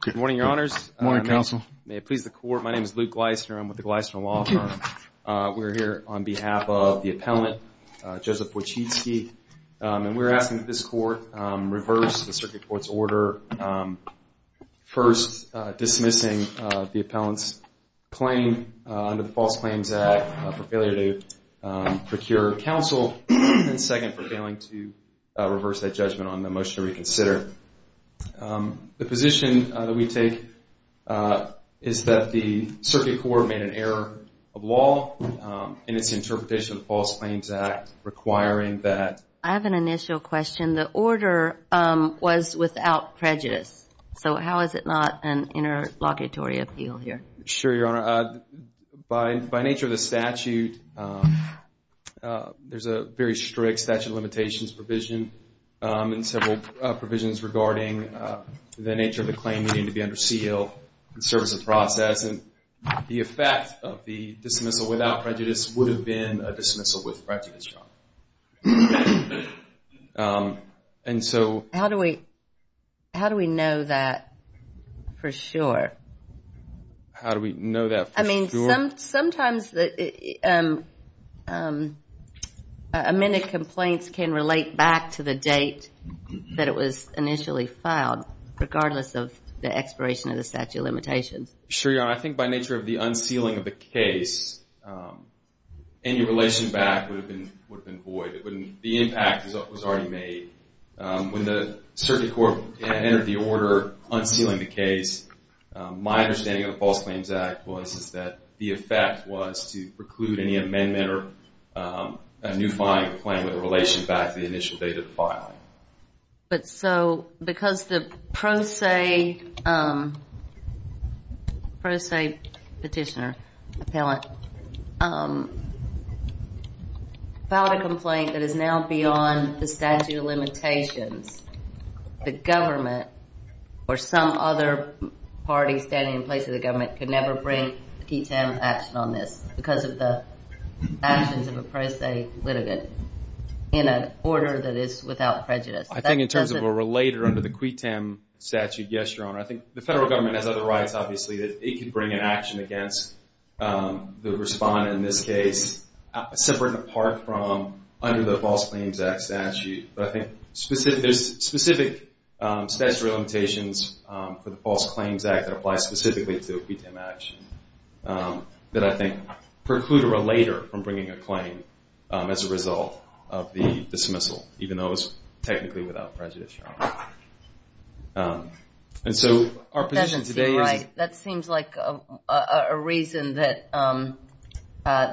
Good morning, your honors. Good morning, counsel. May it please the court, my name is Luke Gleisner. I'm with the Gleisner Law Firm. We're here on behalf of the appellant, Joseph Wojcicki, and we're asking that this court reverse the circuit court's order. First, dismissing the appellant's claim under the False Claims Act for failure to procure counsel, and second, for failing to reverse that judgment on the motion to reconsider. The position that we take is that the circuit court made an error of law in its interpretation of the False Claims Act requiring that I have an initial question. The order was without prejudice, so how is it not an interlocutory appeal here? Sure, your honor. By nature of the statute, there's a very strict statute of limitations provision, and several provisions regarding the nature of the claim needing to be under seal in service of process, and the effect of the dismissal without prejudice would have been a dismissal with prejudice, your honor. How do we know that for sure? How do we know that for sure? I mean, sometimes amended complaints can relate back to the date that it was initially filed, regardless of the expiration of the statute of limitations. Sure, your honor. I think by nature of the unsealing of the case, any relation back would have been void. The impact was already made. When the circuit court entered the order unsealing the case, my understanding of the False Claims Act was that the effect was to preclude any amendment or a new filing of the claim with a relation back to the initial date of the filing. But so, because the pro se petitioner, appellant, filed a complaint that is now beyond the statute of limitations, the government or some other party standing in place of the government could never bring a T-10 action on this because of the actions of a pro se litigant in an order that is without prejudice. I think in terms of a related under the QUITAM statute, yes, your honor. I think the federal government has other rights, obviously, that it could bring an action against the respondent in this case, separate and apart from under the False Claims Act statute. But I think there's specific statutory limitations for the False Claims Act that apply specifically to a QUITAM action that I think preclude or elate her from bringing a claim as a result of the dismissal, even though it's technically without prejudice, your honor. And so, our position today is... That doesn't seem right. That seems like a reason that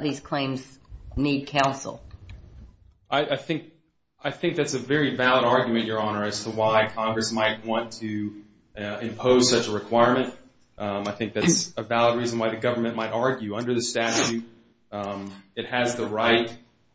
these claims need counsel. I think that's a very valid argument, your honor, as to why Congress might want to impose such a requirement. I think that's a valid reason why the government might argue. Under the statute, it has the right,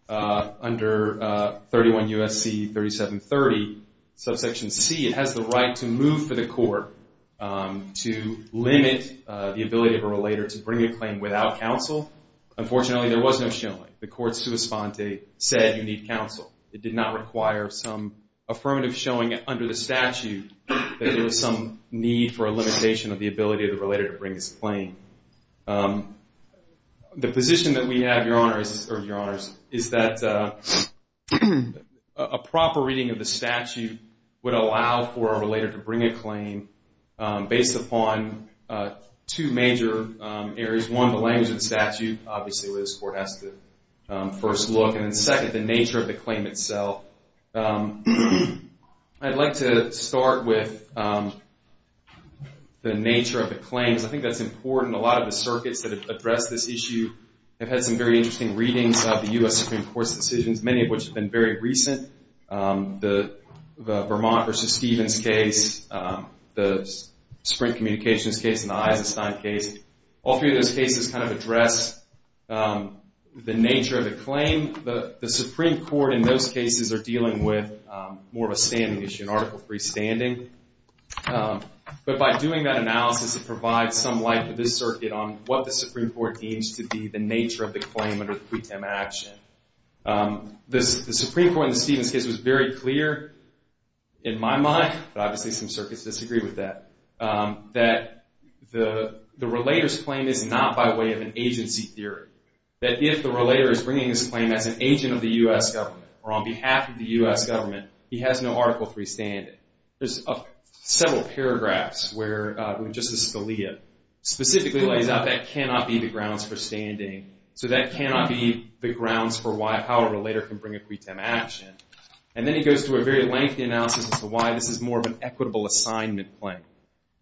under 31 U.S.C. 3730, subsection C, it has the right to move for the court to limit the ability of a relator to bring a claim without counsel. Unfortunately, there was no showing. The court sui sponte said you need counsel. It did not require some affirmative showing under the statute that there was some need for a limitation of the ability of the relator to bring this claim. The position that we have, your honor, or your honors, is that a proper reading of the statute would allow for a relator to bring a claim based upon two major areas. One, the language of the statute, obviously, where this court has to first look. And then second, the nature of the claim itself. I'd like to start with the nature of the claims. I think that's important. A lot of the circuits that have addressed this issue have had some very interesting readings of the U.S. Supreme Court's decisions, many of which have been very recent. The Vermont v. Stevens case, the Sprint Communications case, and the Eisenstein case, all three of those cases kind of address the nature of the claim. The Supreme Court in those cases are dealing with more of a standing issue, an article-free standing. But by doing that analysis, it provides some light to this circuit on what the Supreme Court deems to be the nature of the claim under the pre-tem action. The Supreme Court in the Stevens case was very clear, in my mind, but obviously some circuits disagree with that, that the relator's claim is not by way of an agency theory. That if the relator is bringing his claim as an agent of the U.S. government or on behalf of the U.S. government, he has no article-free standing. There's several paragraphs where Justice Scalia specifically lays out that cannot be the grounds for standing. So that cannot be the grounds for how a relator can bring a pre-tem action. And then he goes through a very lengthy analysis as to why this is more of an equitable assignment claim.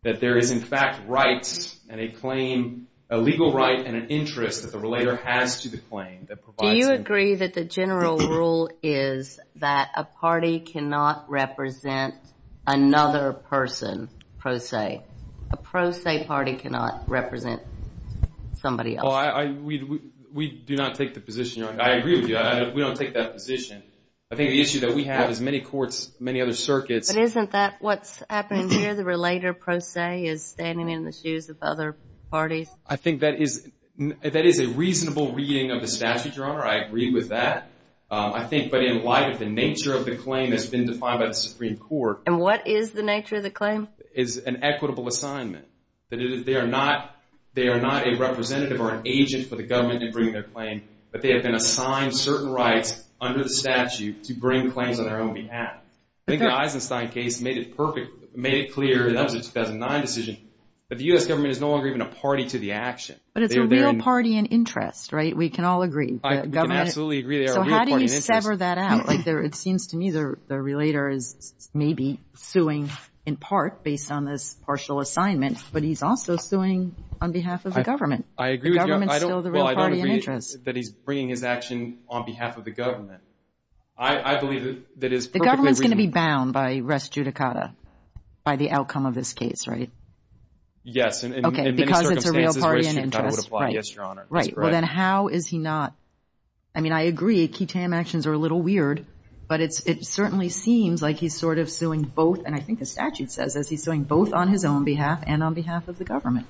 That there is, in fact, rights and a claim, a legal right and an interest that the relator has to the claim. Do you agree that the general rule is that a party cannot represent another person, pro se? A pro se party cannot represent somebody else. We do not take the position. I agree with you. We don't take that position. I think the issue that we have is many courts, many other circuits. But isn't that what's happening here? The relator, pro se, is standing in the shoes of other parties? I think that is a reasonable reading of the statute, Your Honor. I agree with that. I think, but in light of the nature of the claim that's been defined by the Supreme Court. And what is the nature of the claim? It's an equitable assignment. That they are not a representative or an agent for the government in bringing their claim, but they have been assigned certain rights under the statute to bring claims on their own behalf. I think the Eisenstein case made it clear, and that was a 2009 decision, that the U.S. government is no longer even a party to the action. But it's a real party and interest, right? We can all agree. We can absolutely agree they are a real party and interest. So how do you sever that out? It seems to me the relator is maybe suing in part based on this partial assignment, but he's also suing on behalf of the government. I agree with you. The government is still the real party and interest. That he's bringing his action on behalf of the government. I believe that is perfectly reasonable. The government is going to be bound by res judicata, by the outcome of this case, right? Yes. Okay. Because it's a real party and interest. In many circumstances, res judicata would apply, yes, Your Honor. Right. Well, then how is he not? I mean, I agree. Ketam actions are a little weird, but it certainly seems like he's sort of suing both, and I think the statute says he's suing both on his own behalf and on behalf of the government.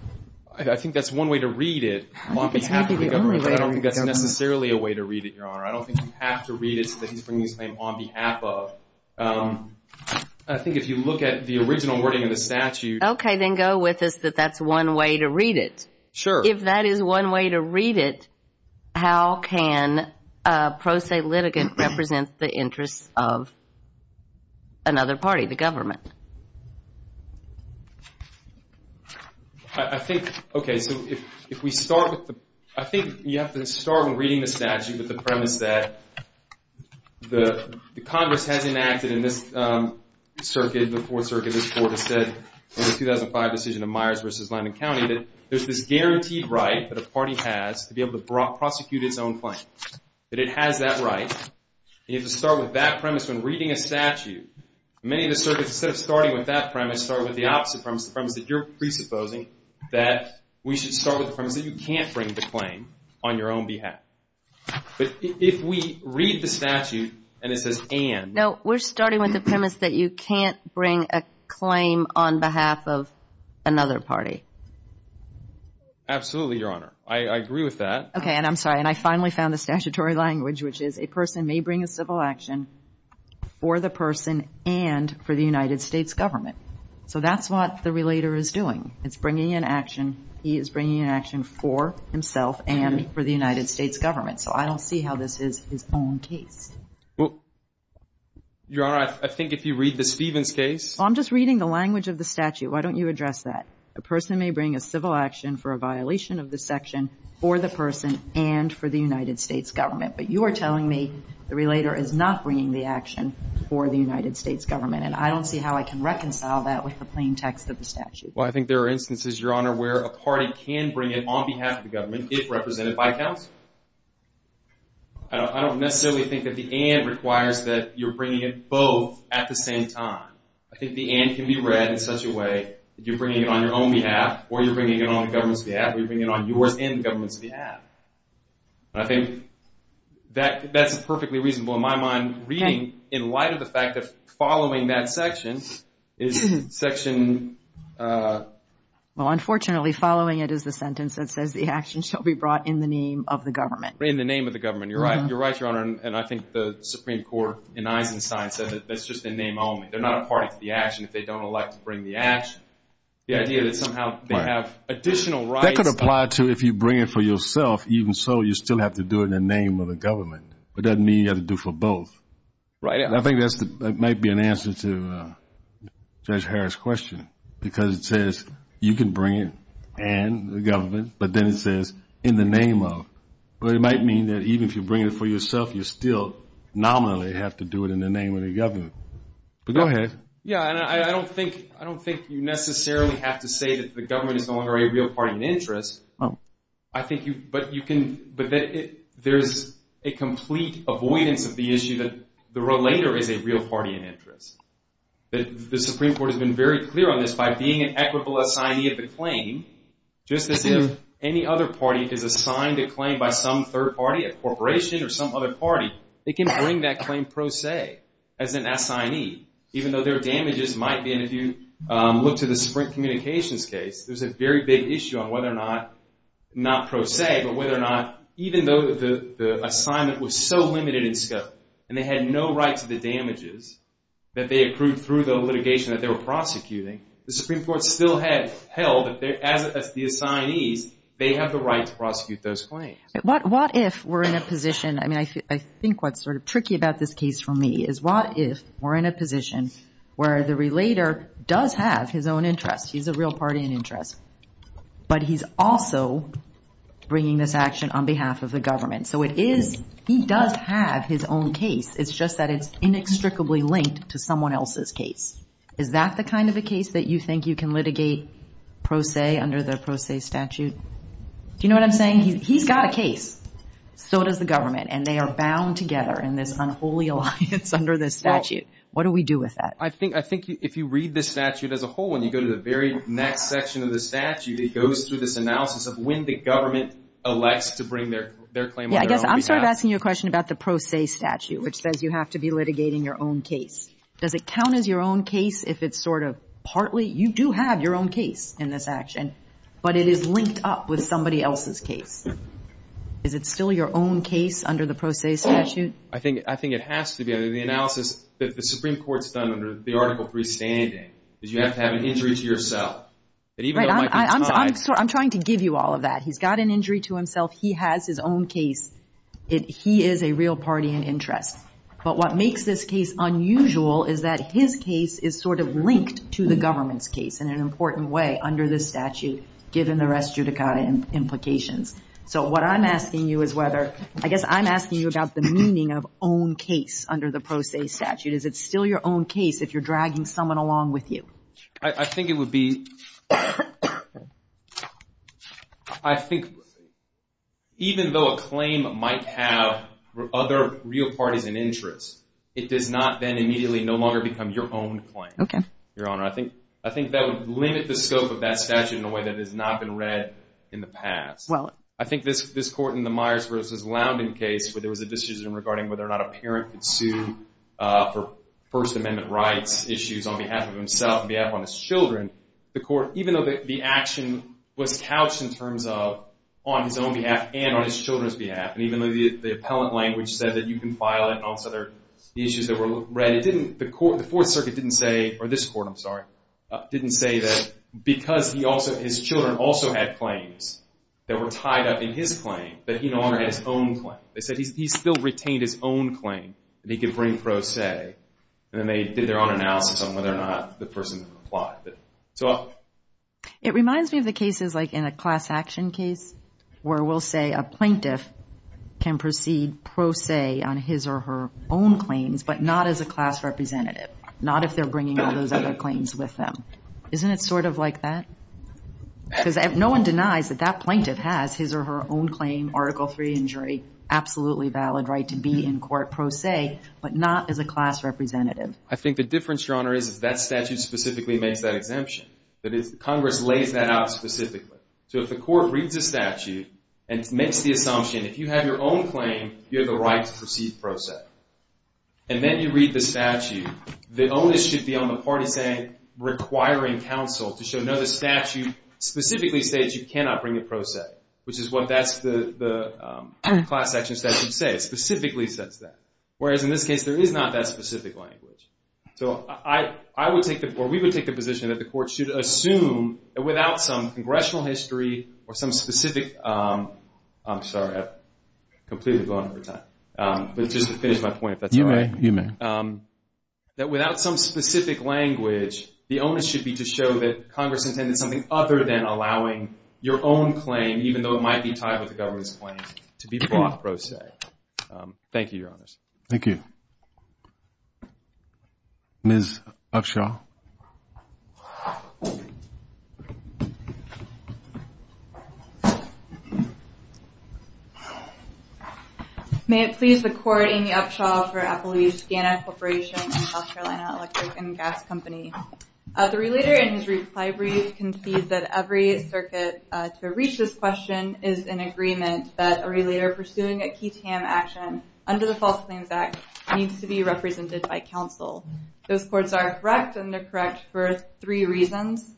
I think that's one way to read it, on behalf of the government. I don't think that's necessarily a way to read it, Your Honor. I don't think you have to read it so that he's bringing his claim on behalf of. I think if you look at the original wording of the statute. Okay. Then go with us that that's one way to read it. Sure. If that is one way to read it, how can a pro se litigant represent the interests of another party, the government? I think, okay, so if we start with the, I think you have to start with reading the statute with the premise that the Congress has enacted in this circuit, the Fourth Circuit, this Court has said in the 2005 decision of Myers v. Linden County, that there's this guaranteed right that a party has to be able to prosecute its own claims, that it has that right. You have to start with that premise when reading a statute. Many of the circuits, instead of starting with that premise, start with the opposite premise, the premise that you're presupposing that we should start with the premise that you can't bring the claim on your own behalf. But if we read the statute and it says, and. No, we're starting with the premise that you can't bring a claim on behalf of another party. Absolutely, Your Honor. I agree with that. Okay, and I'm sorry. And I finally found the statutory language, which is a person may bring a civil action for the person and for the United States government. So that's what the relator is doing. It's bringing an action. He is bringing an action for himself and for the United States government. So I don't see how this is his own case. Well, Your Honor, I think if you read the Stevens case. I'm just reading the language of the statute. Why don't you address that? A person may bring a civil action for a violation of the section for the person and for the United States government. But you are telling me the relator is not bringing the action for the United States government. And I don't see how I can reconcile that with the plain text of the statute. Well, I think there are instances, Your Honor, where a party can bring it on behalf of the government if represented by counsel. I don't necessarily think that the and requires that you're bringing it both at the same time. I think the and can be read in such a way that you're bringing it on your own behalf or you're bringing it on the government's behalf or you're bringing it on yours and the government's behalf. And I think that's perfectly reasonable in my mind reading in light of the fact that following that section is section... Well, unfortunately, following it is the sentence that says the action shall be brought in the name of the government. In the name of the government. You're right. You're right, Your Honor. And I think the Supreme Court in Eisenstein said that that's just in name only. They're not a party to the action if they don't elect to bring the action. The idea that somehow they have additional rights... That could apply to if you bring it for yourself. Even so, you still have to do it in the name of the government. But that doesn't mean you have to do it for both. Right. And I think that might be an answer to Judge Harris' question because it says you can bring it and the government, but then it says in the name of. But it might mean that even if you bring it for yourself, you still nominally have to do it in the name of the government. Go ahead. Yeah, and I don't think you necessarily have to say that the government is no longer a real party in interest. But there's a complete avoidance of the issue that the relator is a real party in interest. The Supreme Court has been very clear on this by being an equitable assignee of the claim, just as if any other party is assigned a claim by some third party, a corporation or some other party, they can bring that claim pro se as an assignee, even though their damages might be. And if you look to the Sprint Communications case, there's a very big issue on whether or not, not pro se, but whether or not even though the assignment was so limited in scope and they had no rights to the damages that they accrued through the litigation that they were prosecuting, the Supreme Court still held that as the assignees, they have the right to prosecute those claims. What if we're in a position, I mean, I think what's sort of tricky about this case for me is what if we're in a position where the relator does have his own interest, he's a real party in interest, but he's also bringing this action on behalf of the government. So it is, he does have his own case, it's just that it's inextricably linked to someone else's case. Is that the kind of a case that you think you can litigate pro se under the pro se statute? Do you know what I'm saying? He's got a case, so does the government, and they are bound together in this unholy alliance under this statute. What do we do with that? I think if you read this statute as a whole, when you go to the very next section of the statute, it goes through this analysis of when the government elects to bring their claim on their own behalf. Yeah, I guess I'm sort of asking you a question about the pro se statute, which says you have to be litigating your own case. Does it count as your own case if it's sort of partly, you do have your own case in this action, but it is linked up with somebody else's case? Is it still your own case under the pro se statute? I think it has to be. The analysis that the Supreme Court's done under the Article 3 standing is you have to have an injury to yourself. Right, I'm trying to give you all of that. He's got an injury to himself. He has his own case. He is a real party in interest. But what makes this case unusual is that his case is sort of linked to the government's case in an important way under this statute, given the res judicata implications. So what I'm asking you is whether, I guess I'm asking you about the meaning of own case under the pro se statute. Is it still your own case if you're dragging someone along with you? I think it would be, I think even though a claim might have other real parties in interest, it does not then immediately no longer become your own claim, Your Honor. I think that would limit the scope of that statute in a way that has not been read in the past. I think this court in the Myers v. Lounding case, where there was a decision regarding whether or not a parent could sue for First Amendment rights issues on behalf of himself, on behalf of his children, the court, even though the action was couched in terms of on his own behalf and on his children's behalf, and even though the appellant language said that you can file it and all these other issues that were read, the Fourth Circuit didn't say, or this court, I'm sorry, didn't say that because his children also had claims that were tied up in his claim, that he no longer had his own claim. They said he still retained his own claim, that he could bring pro se, and then they did their own analysis on whether or not the person applied. It reminds me of the cases like in a class action case, where we'll say a plaintiff can proceed pro se on his or her own claims, but not as a class representative, not if they're bringing all those other claims with them. Isn't it sort of like that? Because no one denies that that plaintiff has his or her own claim, Article III injury, absolutely valid right to be in court pro se, but not as a class representative. I think the difference, Your Honor, is that statute specifically makes that exemption. Congress lays that out specifically. So if the court reads the statute and makes the assumption, if you have your own claim, you have the right to proceed pro se, and then you read the statute, the onus should be on the party saying, requiring counsel to show no, the statute specifically states you cannot bring a pro se, which is what the class action statute says, specifically says that, whereas in this case there is not that specific language. So I would take the, or we would take the position that the court should assume, that without some congressional history or some specific, I'm sorry, I've completely blown up over time, but just to finish my point, if that's all right. You may, you may. That without some specific language, the onus should be to show that Congress intended something other than allowing your own claim, even though it might be tied with the government's claim, to be brought pro se. Thank you, Your Honors. Thank you. Ms. Upshaw. May it please the court, Amy Upshaw for Applebee's Ghana Corporation and South Carolina Electric and Gas Company. The relater in his reply brief concedes that every circuit to reach this question is in agreement that a relater pursuing a key TAM action under the False Claims Act needs to be represented by counsel. Those courts are correct, and they're correct for three reasons.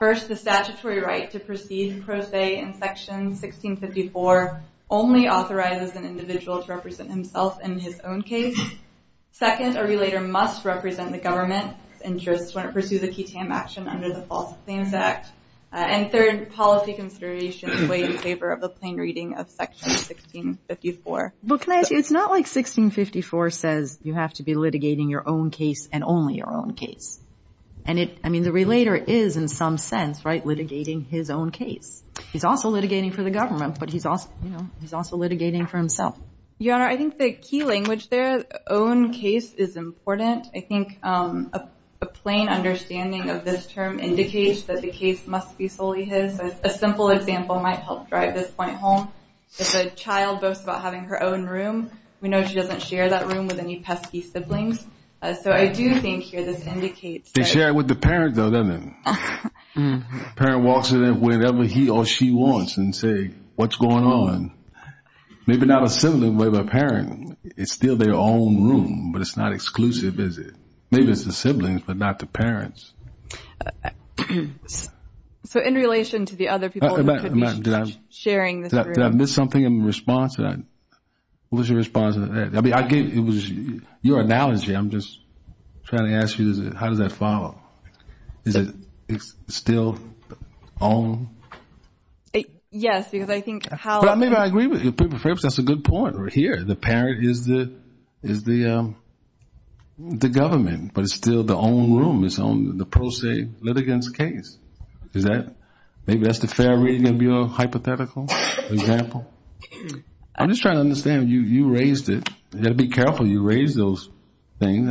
First, the statutory right to proceed pro se in Section 1654 only authorizes an individual to represent himself in his own case. Second, a relater must represent the government's interests when it pursues a key TAM action under the False Claims Act. And third, policy considerations weigh in favor of the plain reading of Section 1654. But can I ask you, it's not like 1654 says you have to be litigating your own case and only your own case. And it, I mean, the relater is in some sense, right, litigating his own case. He's also litigating for the government, but he's also, you know, he's also litigating for himself. Your Honor, I think the key language there, own case, is important. I think a plain understanding of this term indicates that the case must be solely his. A simple example might help drive this point home. If a child boasts about having her own room, we know she doesn't share that room with any pesky siblings. So I do think here this indicates that. They share it with the parents, though, doesn't it? The parent walks in whenever he or she wants and say, what's going on? Maybe not a sibling, but a parent. It's still their own room, but it's not exclusive, is it? Maybe it's the siblings, but not the parents. So in relation to the other people who could be sharing this room. Did I miss something in response to that? What was your response to that? I mean, I gave, it was your analogy. I'm just trying to ask you, how does that follow? Is it still own? Yes, because I think how- Maybe I agree with you. That's a good point right here. The parent is the government, but it's still the own room. It's on the pro se litigant's case. Is that, maybe that's the fair reading of your hypothetical example? I'm just trying to understand. You raised it. You got to be careful you raise those things.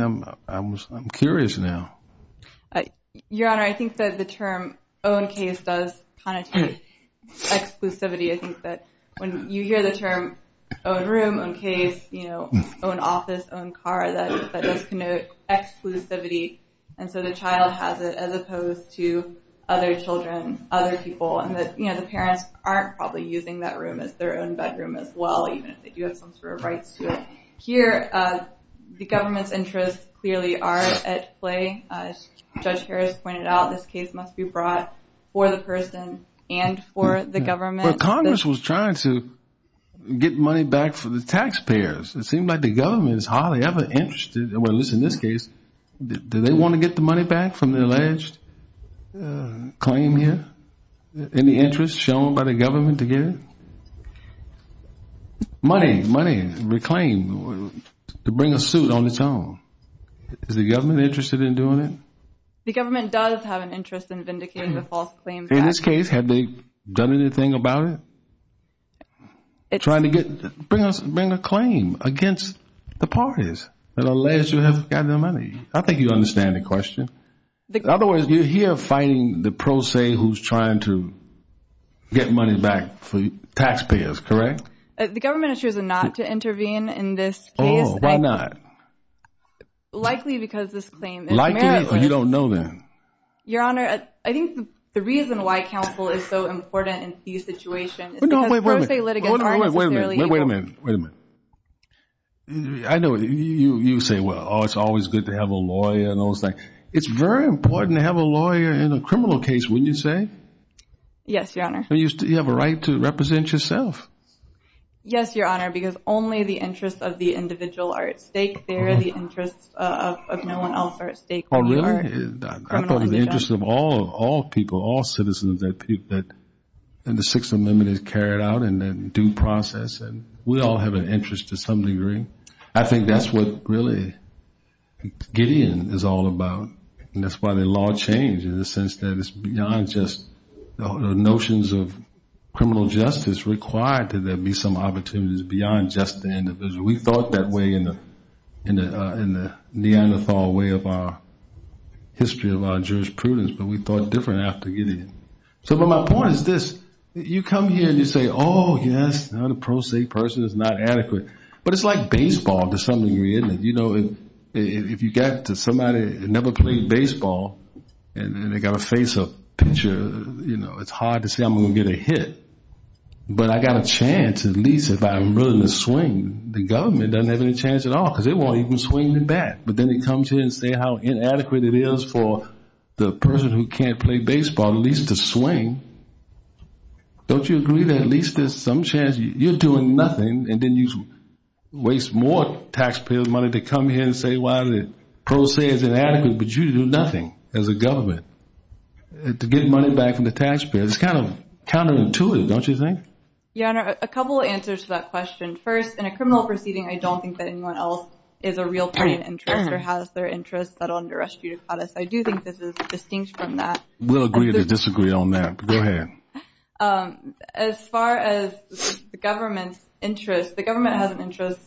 I'm curious now. Your Honor, I think that the term own case does kind of take exclusivity. I think that when you hear the term own room, own case, own office, own car, that does connote exclusivity. And so the child has it as opposed to other children, other people. And the parents aren't probably using that room as their own bedroom as well, even if they do have some sort of rights to it. Here, the government's interests clearly are at play. Judge Harris pointed out this case must be brought for the person and for the government. But Congress was trying to get money back for the taxpayers. It seemed like the government is hardly ever interested, at least in this case. Do they want to get the money back from the alleged claim here? Any interest shown by the government to get it? Money, money, reclaim, to bring a suit on its own. Is the government interested in doing it? The government does have an interest in vindicating the false claims. In this case, have they done anything about it? Trying to bring a claim against the parties that allege you have gotten the money. I think you understand the question. Otherwise, you're here fighting the pro se who's trying to get money back for taxpayers, correct? The government has chosen not to intervene in this case. Why not? Likely because this claim is meritless. You don't know then. Your Honor, I think the reason why counsel is so important in these situations is because pro se litigants aren't necessarily Wait a minute, wait a minute, wait a minute. I know you say, well, it's always good to have a lawyer and all those things. It's very important to have a lawyer in a criminal case, wouldn't you say? Yes, Your Honor. You have a right to represent yourself. Yes, Your Honor, because only the interests of the individual are at stake. They're the interests of no one else are at stake. Oh, really? I thought it was the interest of all people, all citizens, that the Sixth Amendment is carried out and due process. We all have an interest to some degree. I think that's what really Gideon is all about. And that's why the law changed in the sense that it's beyond just notions of criminal justice required to there be some opportunities beyond just the individual. We thought that way in the Neanderthal way of our history of our jurisprudence, but we thought different after Gideon. So my point is this. You come here and you say, oh, yes, the pro se person is not adequate. But it's like baseball to some degree, isn't it? You know, if you get to somebody who never played baseball and they've got to face a pitcher, you know, it's hard to say I'm going to get a hit. But I've got a chance at least if I'm willing to swing. The government doesn't have any chance at all because they won't even swing the bat. But then it comes here and says how inadequate it is for the person who can't play baseball at least to swing. Don't you agree that at least there's some chance you're doing nothing and then you waste more taxpayer money to come here and say, oh, well, the pro se is inadequate, but you do nothing as a government to get money back from the taxpayer. It's kind of counterintuitive, don't you think? Your Honor, a couple of answers to that question. First, in a criminal proceeding, I don't think that anyone else is a real party in interest or has their interest settled under res judicatus. I do think this is distinct from that. We'll agree to disagree on that. Go ahead. As far as the government's interest, the government has an interest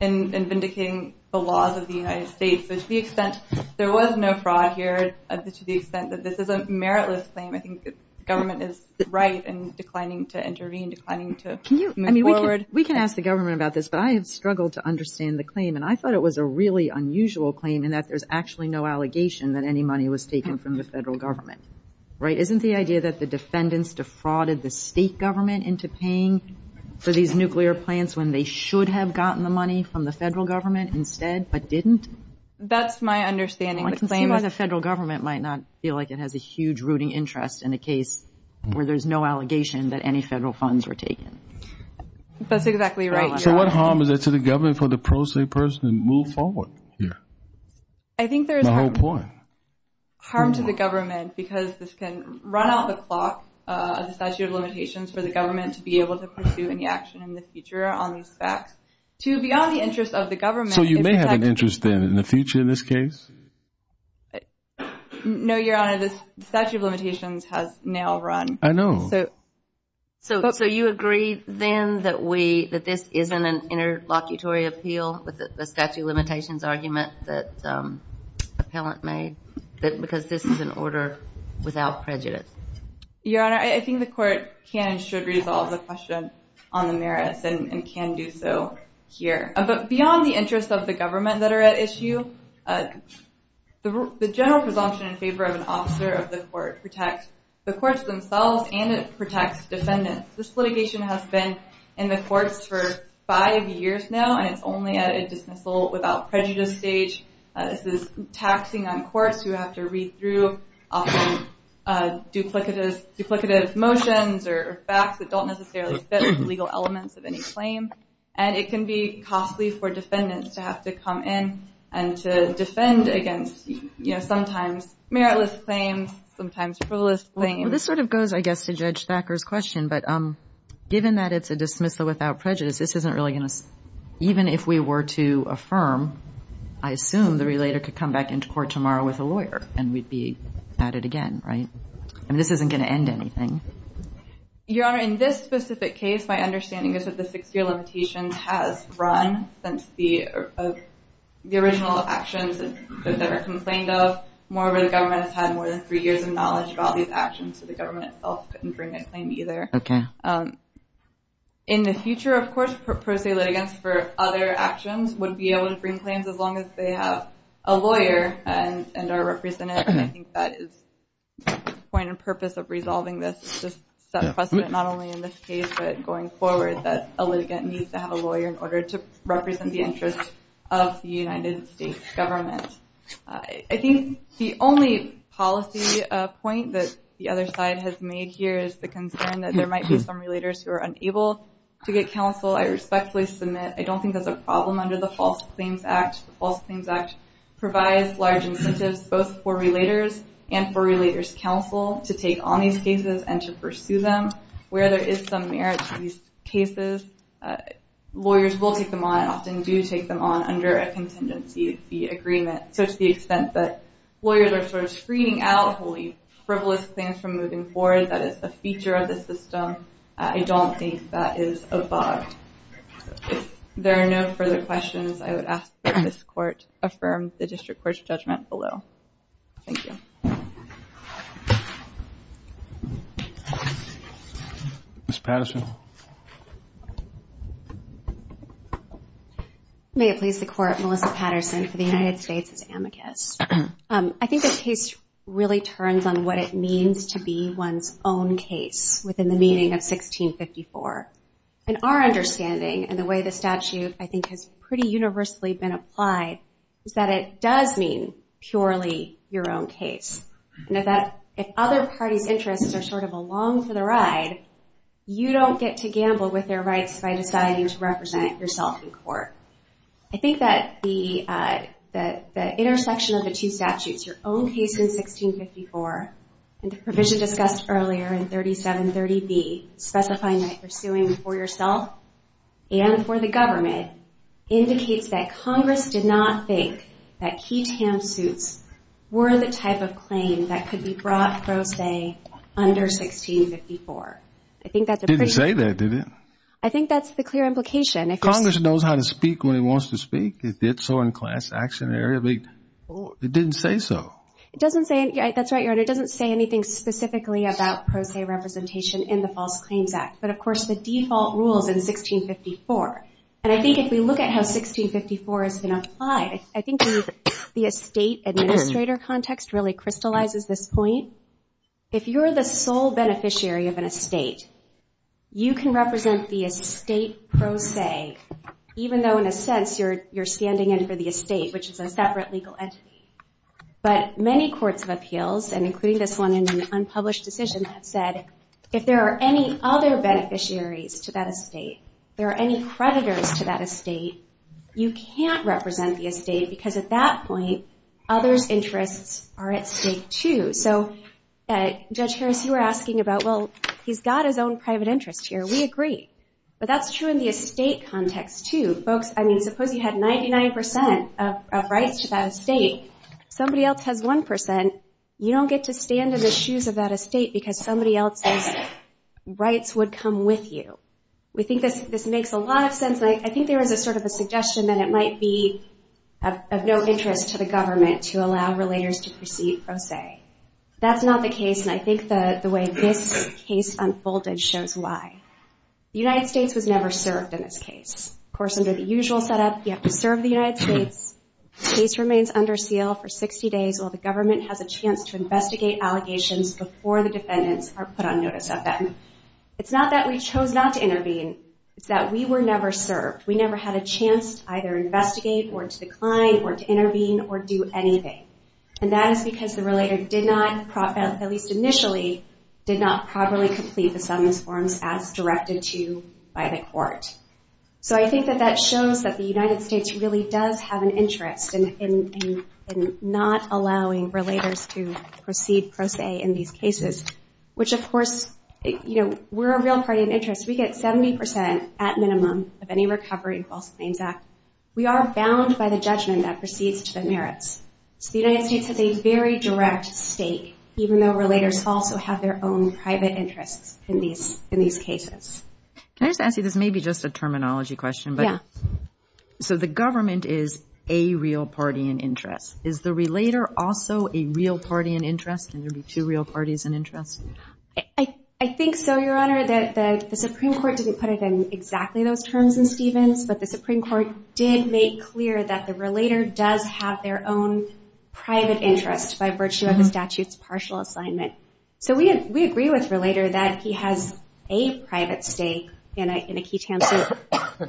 in vindicating the laws of the United States. To the extent there was no fraud here, to the extent that this is a meritless claim, I think the government is right in declining to intervene, declining to move forward. We can ask the government about this, but I have struggled to understand the claim. I thought it was a really unusual claim in that there's actually no allegation that any money was taken from the federal government. Isn't the idea that the defendants defrauded the state government into paying for these nuclear plants when they should have gotten the money from the federal government instead but didn't? That's my understanding. I can see why the federal government might not feel like it has a huge rooting interest in a case where there's no allegation that any federal funds were taken. That's exactly right, Your Honor. So what harm is there to the government for the pro se person to move forward here? I think there's harm. My whole point. Harm to the government because this can run out the clock of the statute of limitations for the government to be able to pursue any action in the future on these facts. To beyond the interest of the government. So you may have an interest then in the future in this case? No, Your Honor. The statute of limitations has now run. I know. So you agree then that this isn't an interlocutory appeal with the statute of limitations argument that the appellant made because this is an order without prejudice? Your Honor, I think the court can and should resolve the question on the merits and can do so here. But beyond the interest of the government that are at issue, the general presumption in favor of an officer of the court protects the courts themselves and it protects defendants. This litigation has been in the courts for five years now and it's only at a dismissal without prejudice stage. This is taxing on courts who have to read through often duplicative motions or facts that don't necessarily fit legal elements of any claim. And it can be costly for defendants to have to come in and to defend against, you know, sometimes meritless claims, sometimes frivolous claims. Well, this sort of goes, I guess, to Judge Thacker's question. But given that it's a dismissal without prejudice, this isn't really going to – even if we were to affirm, I assume the relator could come back into court tomorrow with a lawyer and we'd be batted again, right? I mean, this isn't going to end anything. Your Honor, in this specific case, my understanding is that the six-year limitation has run since the original actions that were complained of. Moreover, the government has had more than three years of knowledge of all these actions, so the government itself couldn't bring a claim either. In the future, of course, pro se litigants for other actions would be able to bring claims as long as they have a lawyer and are represented, and I think that is the point and purpose of resolving this is to set a precedent not only in this case but going forward that a litigant needs to have a lawyer in order to represent the interests of the United States government. I think the only policy point that the other side has made here is the concern that there might be some relators who are unable to get counsel. I respectfully submit I don't think that's a problem under the False Claims Act. The False Claims Act provides large incentives both for relators and for relators' counsel to take on these cases and to pursue them. Where there is some merit to these cases, lawyers will take them on and often do take them on under a contingency fee agreement. So to the extent that lawyers are sort of screening out wholly frivolous claims from moving forward, that is a feature of the system. I don't think that is a bug. If there are no further questions, I would ask that this Court affirm the District Court's judgment below. Thank you. Ms. Patterson. May it please the Court, Melissa Patterson for the United States as amicus. I think the case really turns on what it means to be one's own case within the meaning of 1654. And our understanding and the way the statute I think has pretty universally been applied is that it does mean purely your own case. And if other parties' interests are sort of along for the ride, you don't get to gamble with their rights by deciding to represent yourself in court. I think that the intersection of the two statutes, your own case in 1654 and the provision discussed earlier in 3730B specifying that you're suing for yourself and for the government indicates that Congress did not think that key TAM suits were the type of claim that could be brought pro se under 1654. Didn't say that, did it? I think that's the clear implication. Congress knows how to speak when it wants to speak. It did so in class action. It didn't say so. That's right, Your Honor. It doesn't say anything specifically about pro se representation in the False Claims Act, but of course the default rules in 1654. And I think if we look at how 1654 has been applied, I think the estate administrator context really crystallizes this point. If you're the sole beneficiary of an estate, you can represent the estate pro se, even though in a sense you're standing in for the estate, which is a separate legal entity. But many courts of appeals, and including this one in an unpublished decision, have said if there are any other beneficiaries to that estate, there are any creditors to that estate, you can't represent the estate because at that point others' interests are at stake too. So Judge Harris, you were asking about, well, he's got his own private interest here. We agree. But that's true in the estate context too. Folks, I mean, suppose you had 99% of rights to that estate. Somebody else has 1%. You don't get to stand in the shoes of that estate because somebody else's rights would come with you. We think this makes a lot of sense, and I think there is sort of a suggestion that it might be of no interest to the government to allow relators to proceed pro se. That's not the case, and I think the way this case unfolded shows why. The United States was never served in this case. Of course, under the usual setup, you have to serve the United States. The case remains under seal for 60 days while the government has a chance to investigate allegations before the defendants are put on notice of them. It's not that we chose not to intervene. It's that we were never served. We never had a chance to either investigate or to decline or to intervene or do anything, and that is because the relator did not, at least initially, did not properly complete the summons forms as directed to by the court. So I think that that shows that the United States really does have an interest in not allowing relators to proceed pro se in these cases, which, of course, you know, we're a real party in interest. We get 70% at minimum of any recovery in the False Claims Act. We are bound by the judgment that proceeds to the merits. So the United States has a very direct stake, even though relators also have their own private interests in these cases. Can I just ask you this, maybe just a terminology question? Yeah. So the government is a real party in interest. Is the relator also a real party in interest? Can there be two real parties in interest? I think so, Your Honor. The Supreme Court didn't put it in exactly those terms in Stevens, but the Supreme Court did make clear that the relator does have their own private interest by virtue of the statute's partial assignment. So we agree with relator that he has a private stake in a key tamper.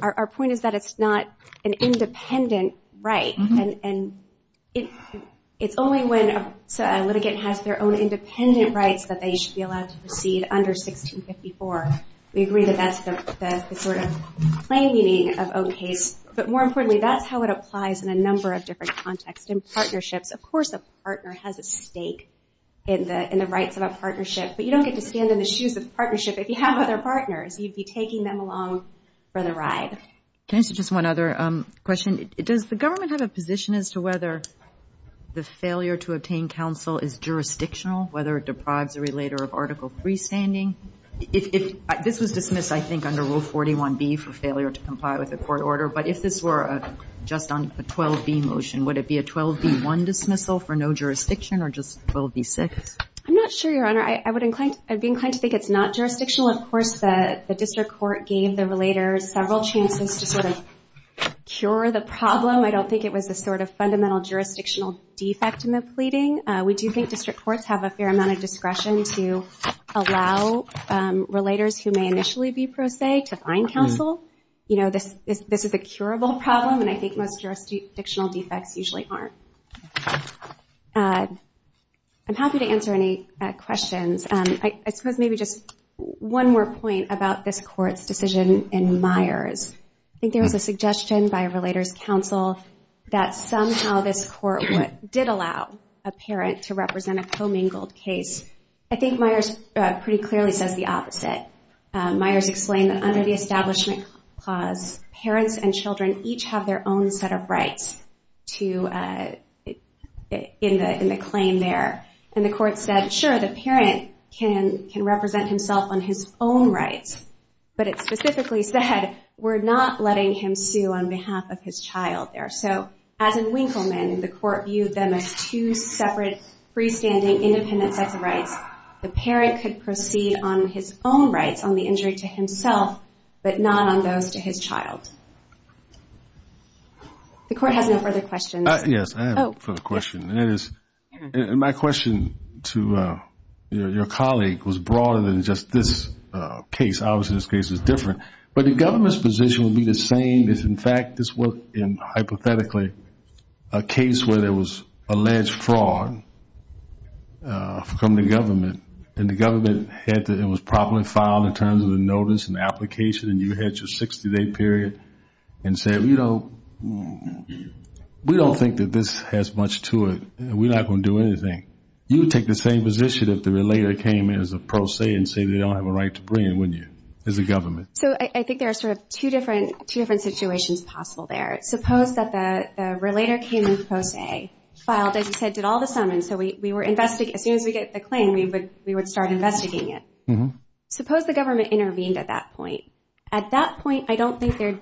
Our point is that it's not an independent right, and it's only when a litigant has their own independent rights that they should be allowed to proceed under 1654. We agree that that's the sort of plain meaning of own case. But more importantly, that's how it applies in a number of different contexts. In partnerships, of course a partner has a stake in the rights of a partnership, but you don't get to stand in the shoes of the partnership if you have other partners. You'd be taking them along for the ride. Can I ask you just one other question? Does the government have a position as to whether the failure to obtain counsel is jurisdictional, whether it deprives a relator of Article III standing? This was dismissed, I think, under Rule 41B for failure to comply with the court order, but if this were just a 12B motion, would it be a 12B1 dismissal for no jurisdiction or just 12B6? I'm not sure, Your Honor. I would be inclined to think it's not jurisdictional. Of course, the district court gave the relator several chances to sort of cure the problem. I don't think it was a sort of fundamental jurisdictional defect in the pleading. We do think district courts have a fair amount of discretion to allow relators who may initially be pro se to find counsel. This is a curable problem, and I think most jurisdictional defects usually aren't. I'm happy to answer any questions. I suppose maybe just one more point about this court's decision in Myers. I think there was a suggestion by a relator's counsel that somehow this court did allow a parent to represent a commingled case. I think Myers pretty clearly says the opposite. Myers explained that under the Establishment Clause, parents and children each have their own set of rights in the claim there. And the court said, sure, the parent can represent himself on his own rights, but it specifically said we're not letting him sue on behalf of his child there. So as in Winkleman, the court viewed them as two separate, freestanding, independent sets of rights. The parent could proceed on his own rights, on the injury to himself, but not on those to his child. The court has no further questions. Yes, I have a further question. My question to your colleague was broader than just this case. Obviously, this case is different. But the government's position would be the same if, in fact, this were, hypothetically, a case where there was alleged fraud from the government and the government had to and was properly filed in terms of the notice and the application and you had your 60-day period and said, you know, we don't think that this has much to it. We're not going to do anything. You would take the same position if the relator came in as a pro se and said they don't have a right to bring it, wouldn't you, as a government? So I think there are sort of two different situations possible there. Suppose that the relator came in pro se, filed, as you said, did all the summons, so as soon as we get the claim, we would start investigating it. Suppose the government intervened at that point. At that point, I don't think that could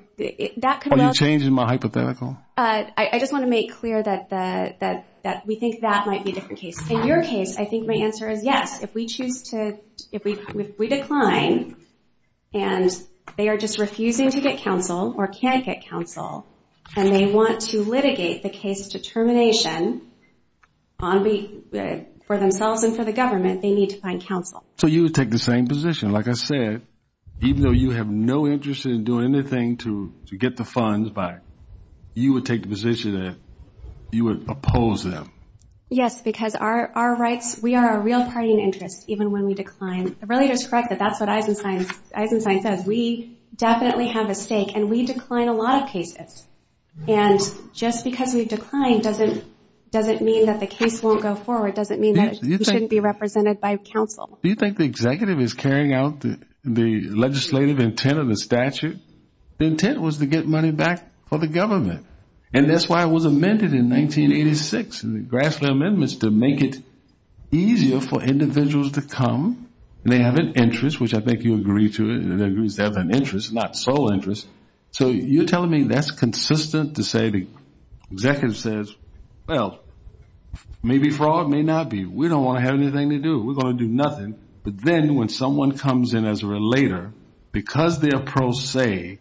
well be. Are you changing my hypothetical? I just want to make clear that we think that might be a different case. In your case, I think my answer is yes. If we decline and they are just refusing to get counsel or can't get counsel and they want to litigate the case to termination for themselves and for the government, they need to find counsel. So you would take the same position. Like I said, even though you have no interest in doing anything to get the funds back, you would take the position that you would oppose them. Yes, because our rights, we are a real party in interest even when we decline. The relator is correct that that's what Eisenstein says. We definitely have a stake, and we decline a lot of cases. And just because we decline doesn't mean that the case won't go forward, doesn't mean that it shouldn't be represented by counsel. Do you think the executive is carrying out the legislative intent of the statute? The intent was to get money back for the government. And that's why it was amended in 1986, the Grassley Amendments, to make it easier for individuals to come. They have an interest, which I think you agree to. It agrees to have an interest, not sole interest. So you're telling me that's consistent to say the executive says, well, maybe fraud, may not be. We don't want to have anything to do. We're going to do nothing. But then when someone comes in as a relator, because they're pro se,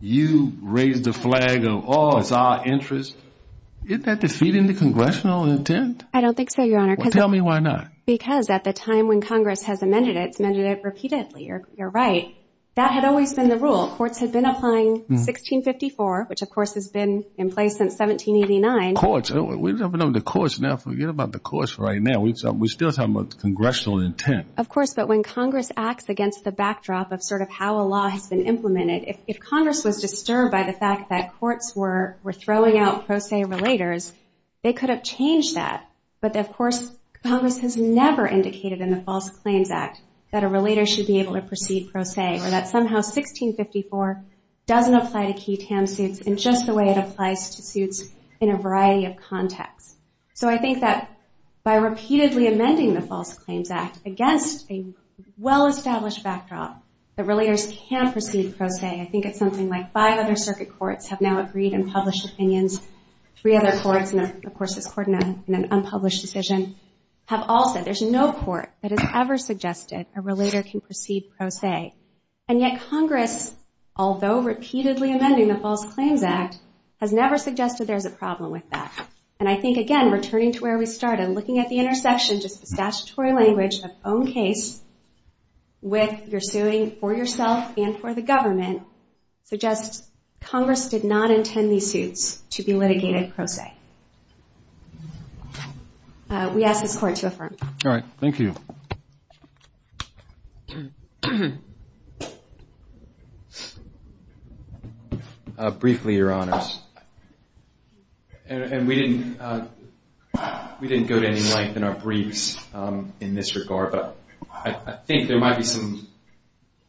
you raise the flag of, oh, it's our interest. Isn't that defeating the congressional intent? I don't think so, Your Honor. Well, tell me why not. Because at the time when Congress has amended it, it's amended it repeatedly. You're right. That had always been the rule. Courts had been applying 1654, which, of course, has been in place since 1789. Courts? We're talking about the courts now. Forget about the courts right now. We're still talking about the congressional intent. Of course. But when Congress acts against the backdrop of sort of how a law has been implemented, if Congress was disturbed by the fact that courts were throwing out pro se relators, they could have changed that. But, of course, Congress has never indicated in the False Claims Act that a relator should be able to proceed pro se or that somehow 1654 doesn't apply to key TAM suits in just the way it applies to suits in a variety of contexts. So I think that by repeatedly amending the False Claims Act against a well-established backdrop, the relators can proceed pro se. I think it's something like five other circuit courts have now agreed and published opinions. Three other courts, and, of course, it's court in an unpublished decision, have all said there's no court that has ever suggested a relator can proceed pro se. And yet Congress, although repeatedly amending the False Claims Act, has never suggested there's a problem with that. And I think, again, returning to where we started, looking at the intersection, just the statutory language of own case with your suing for yourself and for the government, suggests Congress did not intend these suits to be litigated pro se. We ask this Court to affirm. All right. Thank you. Briefly, Your Honors, and we didn't go to any length in our briefs in this regard, but I think there might be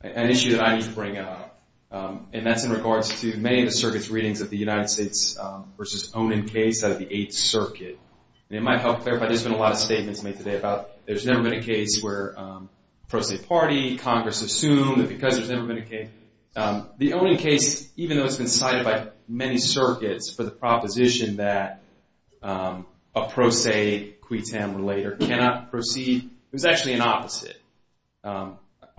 an issue that I need to bring up, and that's in regards to many of the circuit's readings of the United States v. Onan case out of the Eighth Circuit. And it might help clarify, there's been a lot of statements made today about there's never been a case where pro se party, Congress assumed that because there's never been a case. The Onan case, even though it's been cited by many circuits for the proposition that a pro se, a qui tam relator cannot proceed, it was actually an opposite. I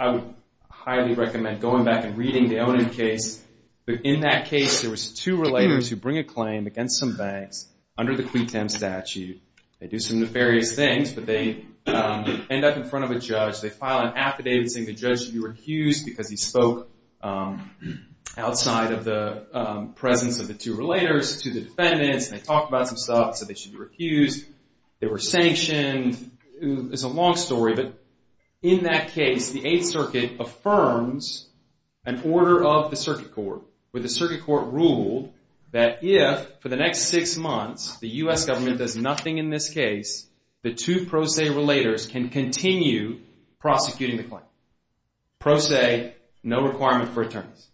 would highly recommend going back and reading the Onan case. In that case, there was two relators who bring a claim against some banks under the qui tam statute. They do some nefarious things, but they end up in front of a judge. They file an affidavit saying the judge should be recused because he spoke outside of the presence of the two relators to the defendants, and they talked about some stuff, said they should be recused, they were sanctioned. It's a long story, but in that case, the Eighth Circuit affirms an order of the circuit court, where the circuit court ruled that if for the next six months the U.S. government does nothing in this case, the two pro se relators can continue prosecuting the claim. Pro se, no requirement for attorneys.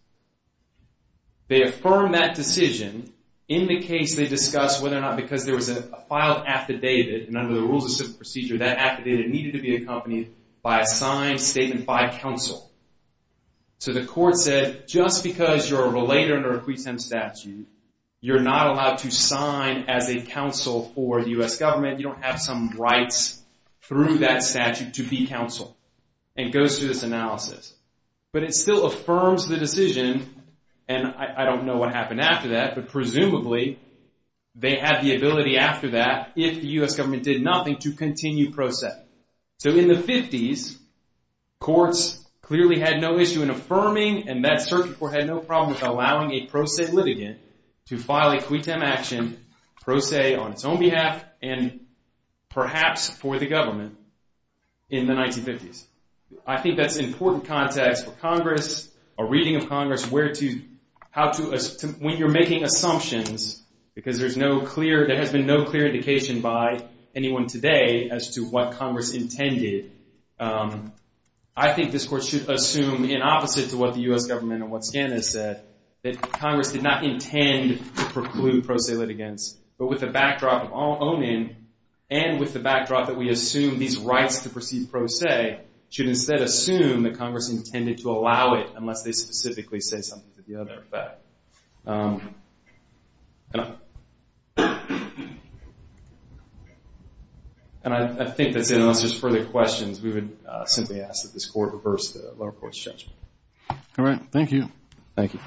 They affirm that decision in the case they discuss whether or not because there was a filed affidavit, and under the rules of civil procedure, that affidavit needed to be accompanied by a signed statement by counsel. So the court said, just because you're a relator under a qui tam statute, you're not allowed to sign as a counsel for the U.S. government, you don't have some rights through that statute to be counsel, and goes through this analysis. But it still affirms the decision, and I don't know what happened after that, but presumably they had the ability after that, if the U.S. government did nothing, to continue pro se. So in the 50s, courts clearly had no issue in affirming, and that circuit court had no problem with allowing a pro se litigant to file a qui tam action, pro se on its own behalf, and perhaps for the government, in the 1950s. I think that's important context for Congress, a reading of Congress, where to, how to, when you're making assumptions, because there's no clear, there has been no clear indication by anyone today as to what Congress intended. I think this court should assume, in opposite to what the U.S. government and what SCAN has said, that Congress did not intend to preclude pro se litigants. But with the backdrop of Onin, and with the backdrop that we assume these rights to proceed pro se, should instead assume that Congress intended to allow it, unless they specifically say something to the other effect. And I think that's it, unless there's further questions, we would simply ask that this court reverse the lower court's judgment. All right, thank you. Thank you.